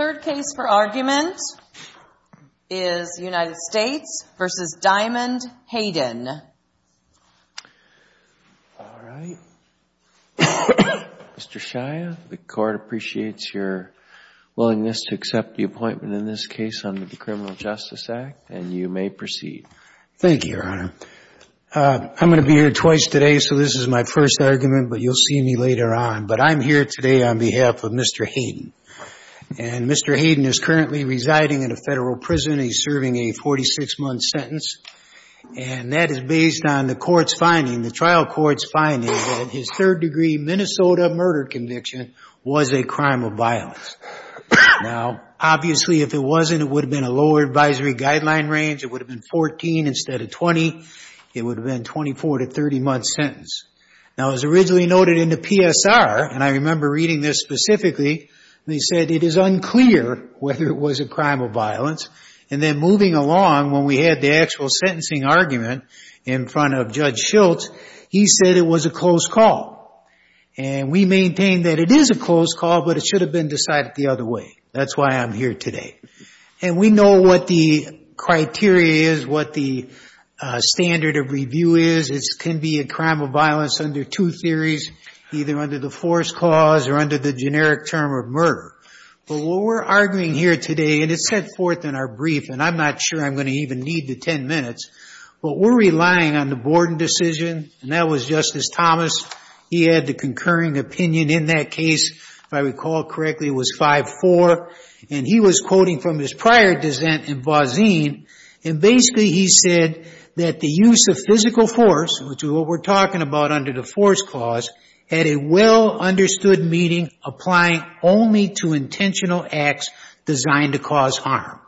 All right. Mr. Shia, the court appreciates your willingness to accept the appointment in this case under the Criminal Justice Act, and you may proceed. Thank you, Your Honor. I'm going to be here twice today, so this is my first argument, but you'll see me later on. But I'm here today on behalf of Mr. Hayden. And Mr. Hayden is currently residing in a federal prison. He's serving a 46-month sentence, and that is based on the court's finding, the trial court's finding, that his third-degree Minnesota murder conviction was a crime of violence. Now, obviously, if it wasn't, it would have been a lower advisory guideline range. It would have been 14 instead of 20. It would have been a 24- to 30-month sentence. Now, it was originally noted in the PSR, and I remember reading this specifically, they said it is unclear whether it was a crime of violence. And then moving along, when we had the actual sentencing argument in front of Judge Schultz, he said it was a close call. And we maintain that it is a close call, but it should have been decided the other way. That's why I'm here today. And we know what the criteria is, what the standard of review is. It can be a crime of violence under two theories, either under the force clause or under the generic term of murder. But what we're arguing here today, and it's set forth in our brief, and I'm not sure I'm going to even need the 10 minutes, but we're relying on the Borden decision, and that was Justice Thomas. He had the concurring opinion in that case. If I recall correctly, it was 5-4. And he was quoting from his prior dissent in Bozzine. And basically, he said that the use of physical force, which is what we're talking about under the force clause, had a well-understood meaning applying only to intentional acts designed to cause harm.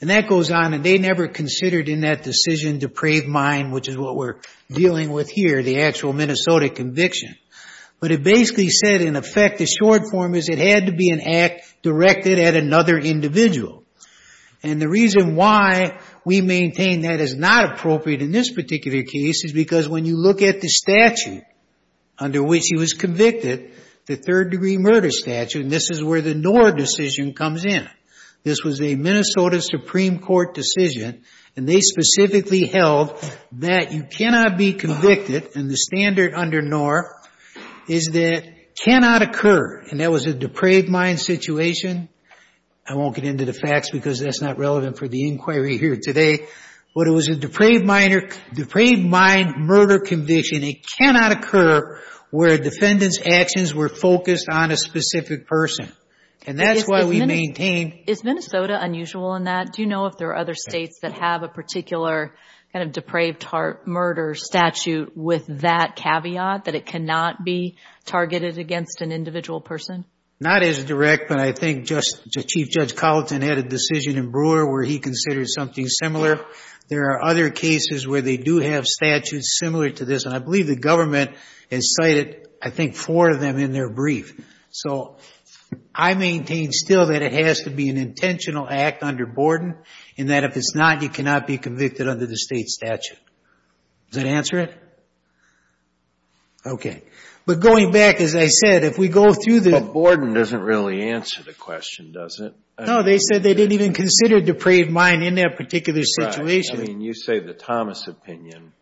And that goes on, and they never considered in that decision depraved mind, which is what we're dealing with here, the actual Minnesota conviction. But it basically said, in effect, the short form is it had to be an act directed at another individual. And the reason why we maintain that is not appropriate in this particular case is because when you look at the statute under which he was convicted, the third-degree murder statute, and this is where the Knorr decision comes in. This was a Minnesota Supreme Court decision, and they specifically held that you cannot be convicted, and the standard under Knorr is that cannot occur. And that was a depraved mind situation. I won't get into the facts because that's not relevant for the inquiry here today. But it was a depraved mind murder conviction. It cannot occur where a defendant's actions were focused on a specific person. And that's why we maintain... Is Minnesota unusual in that? Do you know if there are other states that have a particular kind of depraved heart murder statute with that caveat, that it cannot be targeted against an individual person? Not as direct, but I think Chief Judge Colleton had a decision in Brewer where he considered something similar. There are other cases where they do have statutes similar to this, and I believe the government has cited, I think, four of them in their brief. So I maintain still that it has to be an intentional act under Borden, and that if it's not, you cannot be convicted under the state statute. Does that answer it? Okay. But going back, as I said, if we go through the... But Borden doesn't really answer the question, does it? No, they said they didn't even consider depraved mind in that particular situation. I mean, you say the Thomas opinion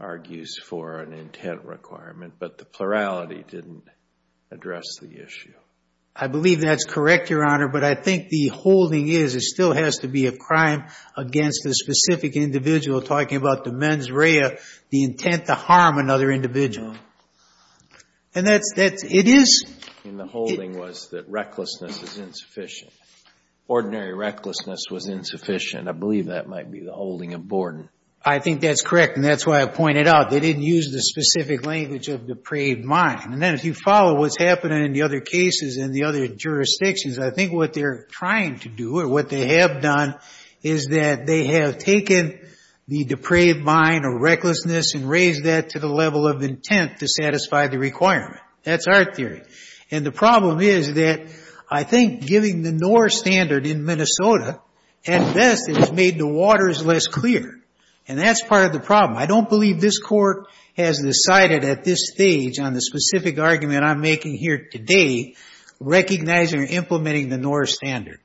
argues for an intent requirement, but the plurality didn't address the issue. I believe that's correct, Your Honor, but I think the holding is it still has to be a crime against a specific individual, talking about the mens rea, the intent to harm another individual. And that's... It is... And the holding was that recklessness is insufficient. Ordinary recklessness was insufficient. I believe that might be the holding of Borden. I think that's correct, and that's why I pointed out they didn't use the specific language of depraved mind. And then if you follow what's happening in the other cases and the other jurisdictions, I think what they're trying to do, or what they have done, is that they have taken the depraved mind or recklessness and raised that to the level of intent to satisfy the requirement. That's our theory. And the problem is that I think giving the NOR standard in Minnesota, at best, has made the waters less clear. And that's part of the problem. I don't believe this Court has decided at this stage on the specific argument I'm making here today, recognizing or implementing the NOR standard.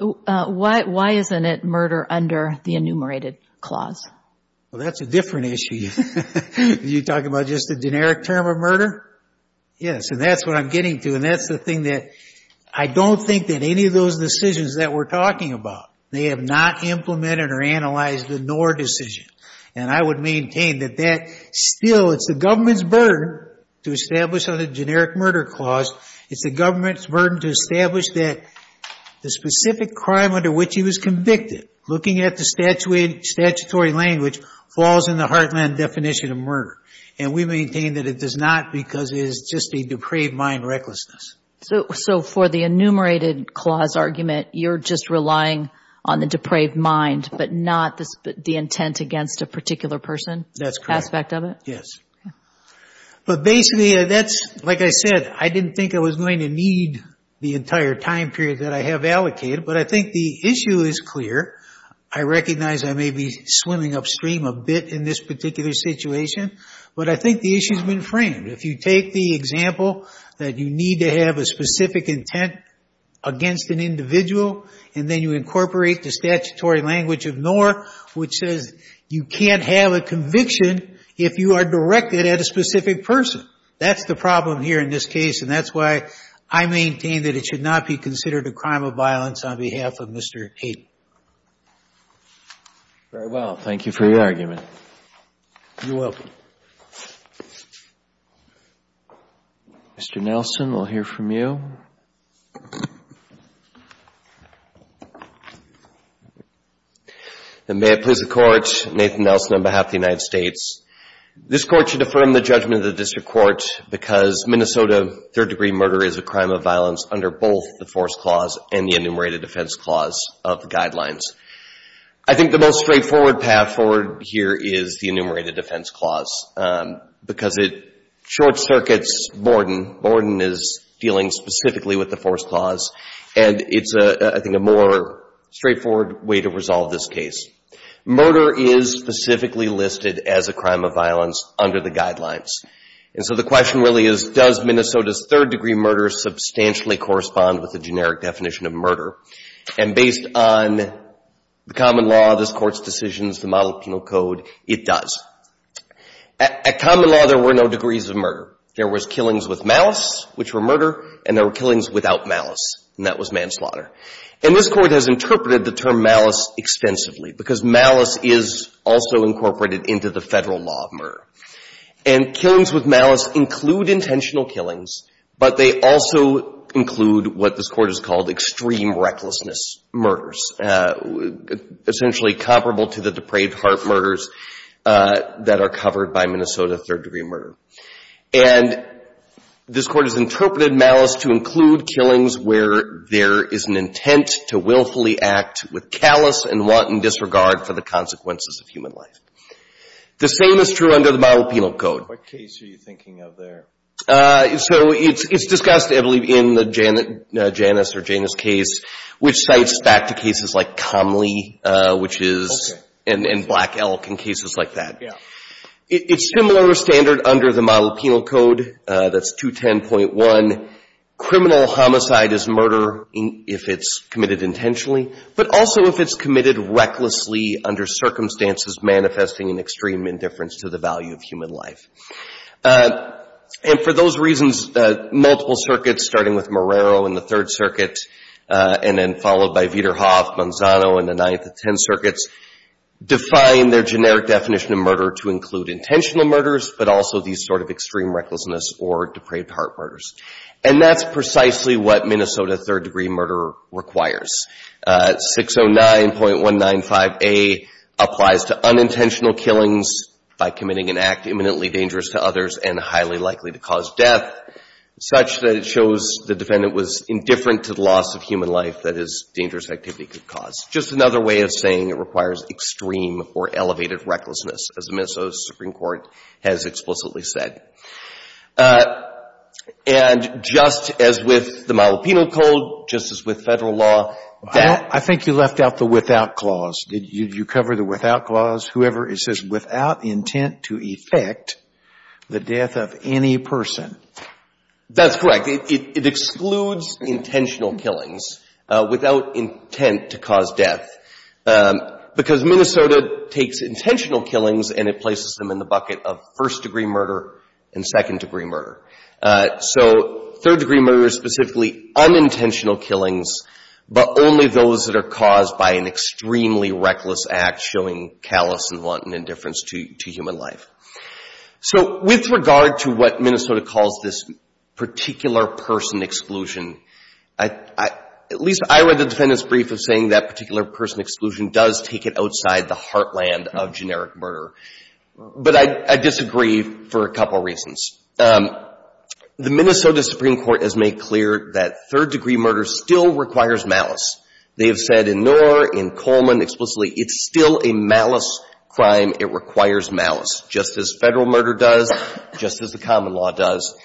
Why isn't it murder under the enumerated clause? Well, that's a different issue. You're talking about just a generic term of murder? Yes, and that's what I'm getting to. And that's the thing that... I don't think that any of those decisions that we're talking about, they have not implemented or analyzed the NOR decision. And I would maintain that that still... It's the government's burden to establish on a generic murder clause. It's the government's burden to establish that the specific crime under which he was convicted, looking at the statutory language, falls in the Heartland definition of murder. And we maintain that it does not because it is just a depraved mind recklessness. So for the enumerated clause argument, you're just relying on the depraved mind, but not the intent against a particular person? That's correct. Aspect of it? Yes. But basically, that's... Like I said, I didn't think I was going to need the entire time period that I have allocated, but I think the issue is clear. I recognize I may be swimming upstream a bit in this particular situation, but I think the issue has been framed. If you take the example that you need to have a specific intent against an individual, and then you incorporate the statutory language of NOR, which says you can't have a conviction if you are directed at a specific person. That's the problem here in this case, and that's why I maintain that it should not be considered a crime of violence on behalf of Mr. Hayden. Very well. Thank you for your argument. You're welcome. Mr. Nelson, we'll hear from you. And may it please the Court, Nathan Nelson on behalf of the United States. This Court should affirm the judgment of the District Court because Minnesota third-degree murder is a crime of violence under both the Force Clause and the Enumerated Defense Clause of the Guidelines. I think the most straightforward path forward here is the Enumerated Defense Clause because it short-circuits Borden. Borden is dealing specifically with the Force Clause, and it's, I think, a more straightforward way to resolve this case. Murder is specifically listed as a crime of violence under the Guidelines. And so the question really is, does Minnesota's third-degree murder substantially correspond with the generic definition of murder? And based on the common law, this Court's decisions, the Model Penal Code, it does. At common law, there were no degrees of murder. There was killings with malice, which were murder, and there were killings without malice, and that was manslaughter. And this Court has interpreted the term malice extensively because malice is also incorporated into the federal law of murder. And killings with malice include intentional killings, but they also include what this Court has called extreme recklessness murders, essentially comparable to the depraved heart murders that are covered by Minnesota third-degree murder. And this Court has interpreted malice to include killings where there is an intent to willfully act with callous and wanton disregard for the consequences of human life. The same is true under the Model Penal Code. What case are you thinking of there? So it's discussed, I believe, in the Janus case, which cites back to cases like Comley, which is, and Black Elk, and cases like that. It's similar standard under the Model Penal Code, that's 210.1. Criminal homicide is murder if it's committed intentionally, but also if it's committed recklessly under circumstances manifesting an extreme indifference to the value of human life. And for those reasons, multiple circuits, starting with Marrero in the Third Circuit, and then followed by Vederhoff, Manzano in the Ninth and Tenth Circuits, define their generic definition of murder to include intentional murders, but also these sort of extreme recklessness or depraved heart murders. And that's precisely what Minnesota third-degree murder requires. 609.195A applies to unintentional killings by committing an act imminently dangerous to others and highly likely to cause death, such that it shows the defendant was indifferent to the loss of human life that his dangerous activity could cause. Just another way of saying it requires extreme or elevated recklessness, as the Minnesota Supreme Court has explicitly said. And just as with the Model Penal Code, just as with Federal law, I think you left out the without clause. Did you cover the without clause? Whoever, it says, without intent to effect the death of any person. That's correct. It excludes intentional killings without intent to cause death, because Minnesota takes intentional killings and it places them in the bucket of first-degree murder and second-degree murder. So third-degree murder is specifically unintentional killings, but only those that are caused by an extremely reckless act showing callous and wanton indifference to human life. So with regard to what Minnesota calls this particular person exclusion, at least I read the defendant's brief of saying that particular person exclusion does take it outside the heartland of generic murder. But I disagree for a couple reasons. The Minnesota Supreme Court has made clear that third-degree murder still requires malice. They have said in Knorr, in Coleman explicitly, it's still a malice crime. It requires malice, just as Federal murder does, just as the common law does.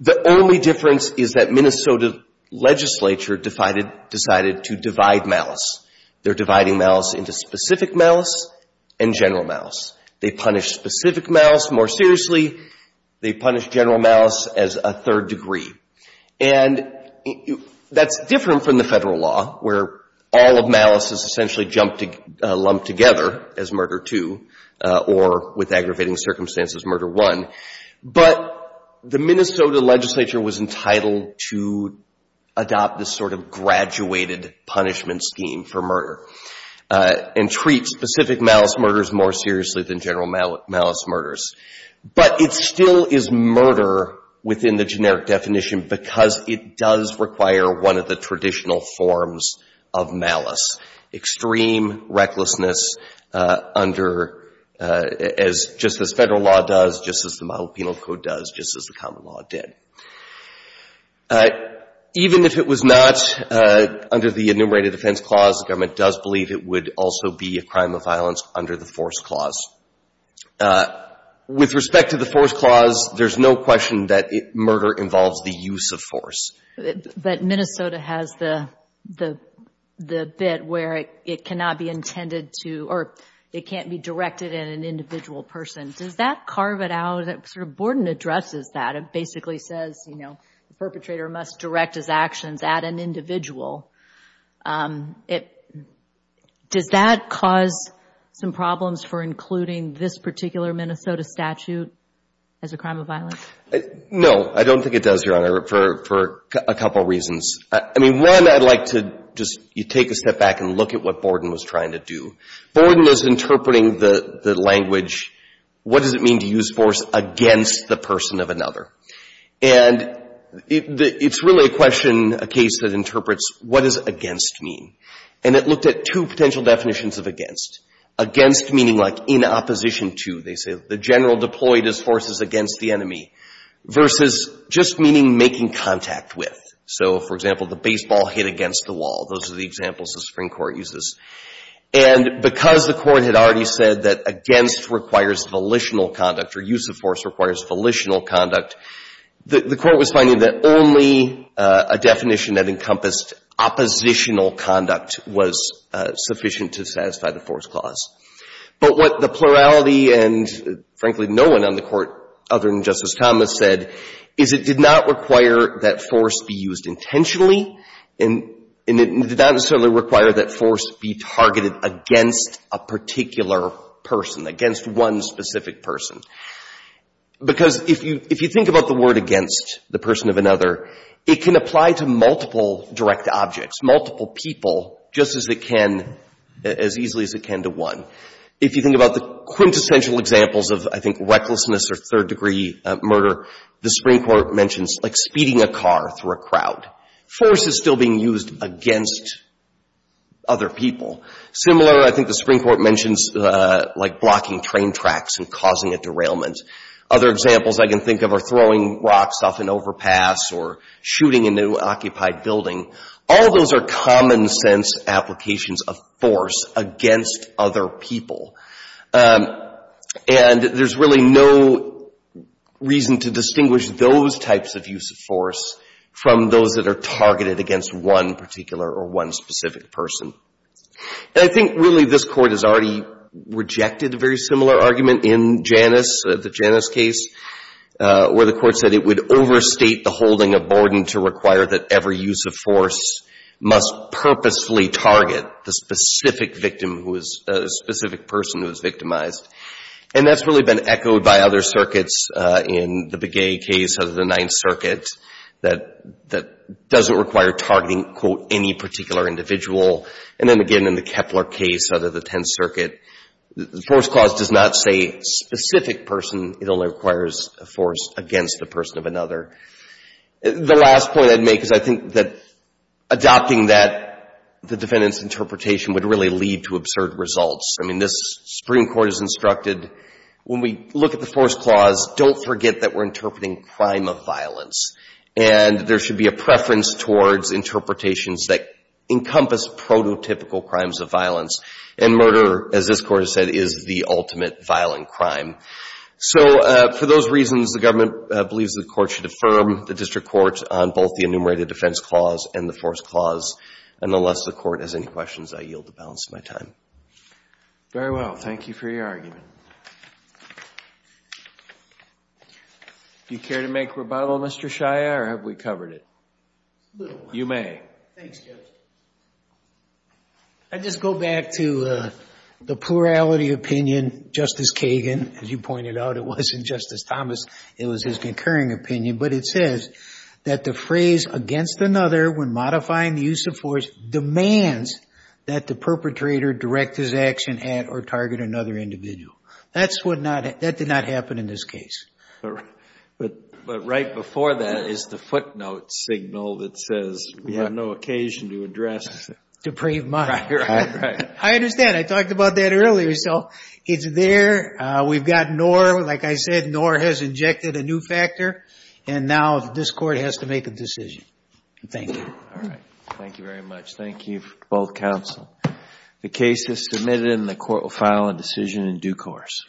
The only difference is that Minnesota legislature decided to divide malice. They're dividing malice into specific malice and general malice. They punish specific malice more seriously. They punish general malice as a third-degree. And that's different from the Federal law where all of malice is essentially lumped together as murder two or, with aggravating circumstances, murder one. But the Minnesota legislature was entitled to adopt this sort of graduated punishment scheme for murder and treat specific malice murders more seriously than general malice murders. But it still is murder within the generic definition because it does require one of the traditional forms of malice, extreme recklessness under, as just as Federal law does, just as the Mahou Penal Code does, just as the common law did. Even if it was not under the enumerated defense clause, the government does believe it would also be a crime of violence under the force clause. With respect to the force clause, there's no question that murder involves the use of force. But Minnesota has the bit where it cannot be intended to, or it can't be directed at an individual person. Does that carve it out? Borden addresses that. It basically says, you know, the perpetrator must direct his actions at an individual. Does that cause some problems for including this particular Minnesota statute as a crime of violence? No, I don't think it does, Your Honor, for a couple reasons. I mean, one, I'd like to just take a step back and look at what Borden was trying to do. Borden was interpreting the language, what does it mean to use force against the person of another? And it's really a question, a case that interprets what does against mean? And it looked at two potential definitions of against. Against meaning like in opposition to. They say the general deployed his forces against the enemy versus just meaning making contact with. So, for example, the baseball hit against the wall. Those are the examples the Supreme Court uses. And because the Court had already said that against requires volitional conduct or use of force requires volitional conduct, the Court was finding that only a definition that encompassed oppositional conduct was sufficient to satisfy the force clause. But what the plurality and, frankly, no one on the Court other than Justice Thomas said is it did not require that force be used intentionally, and it did not necessarily require that force be targeted against a particular person, against one specific person. Because if you think about the word against, the person of another, it can apply to multiple direct objects, multiple people, just as it can, as easily as it can to one. If you think about the quintessential examples of, I think, recklessness or third degree murder, the Supreme Court mentions like speeding a car through a crowd. Force is still being used against other people. Similar, I think the Supreme Court mentions like blocking train tracks and causing a derailment. Other examples I can think of are throwing rocks off an overpass or shooting a new occupied building. All those are common sense applications of force against other people. And there's really no reason to distinguish those types of use of force from those that are targeted against one particular or one specific person. And I think, really, this Court has already rejected a very similar argument in Janus, the Janus case, where the Court said it would overstate the holding of borden to require that every use of force must purposefully target the specific victim who is a specific person who is victimized. And that's really been echoed by other circuits in the Begay case of the Ninth Circuit that doesn't require targeting, quote, any particular individual. And then, again, in the Kepler case out of the Tenth Circuit, the force clause does not say specific person. It only requires a force against the person of another. The last point I'd make is I think that adopting that, the defendant's interpretation would really lead to absurd results. I mean, this Supreme Court has instructed when we look at the force clause, don't forget that we're interpreting crime of violence. And there should be a preference towards interpretations that encompass prototypical crimes of violence. And murder, as this Court has said, is the ultimate violent crime. So for those reasons, the government believes the Court should affirm the district court on both the enumerated defense clause and the force clause. And unless the Court has any questions, I yield the balance of my time. Very well. Thank you for your argument. Do you care to make rebuttal, Mr. Shia, or have we covered it? You may. Thanks, Judge. I'd just go back to the plurality opinion, Justice Kagan. As you pointed out, it wasn't Justice Thomas. It was his concurring opinion. But it says that the phrase against another when modifying the use of force demands that the perpetrator direct his action at or target another individual. That did not happen in this case. But right before that is the footnote signal that says we have no occasion to address... Depraved mind. I understand. I talked about that earlier. So it's there. We've got nor, like I said, nor has injected a new factor. And now this Court has to make a decision. Thank you. Thank you very much. Thank you, both counsel. The case is submitted and the Court will file a decision in due course.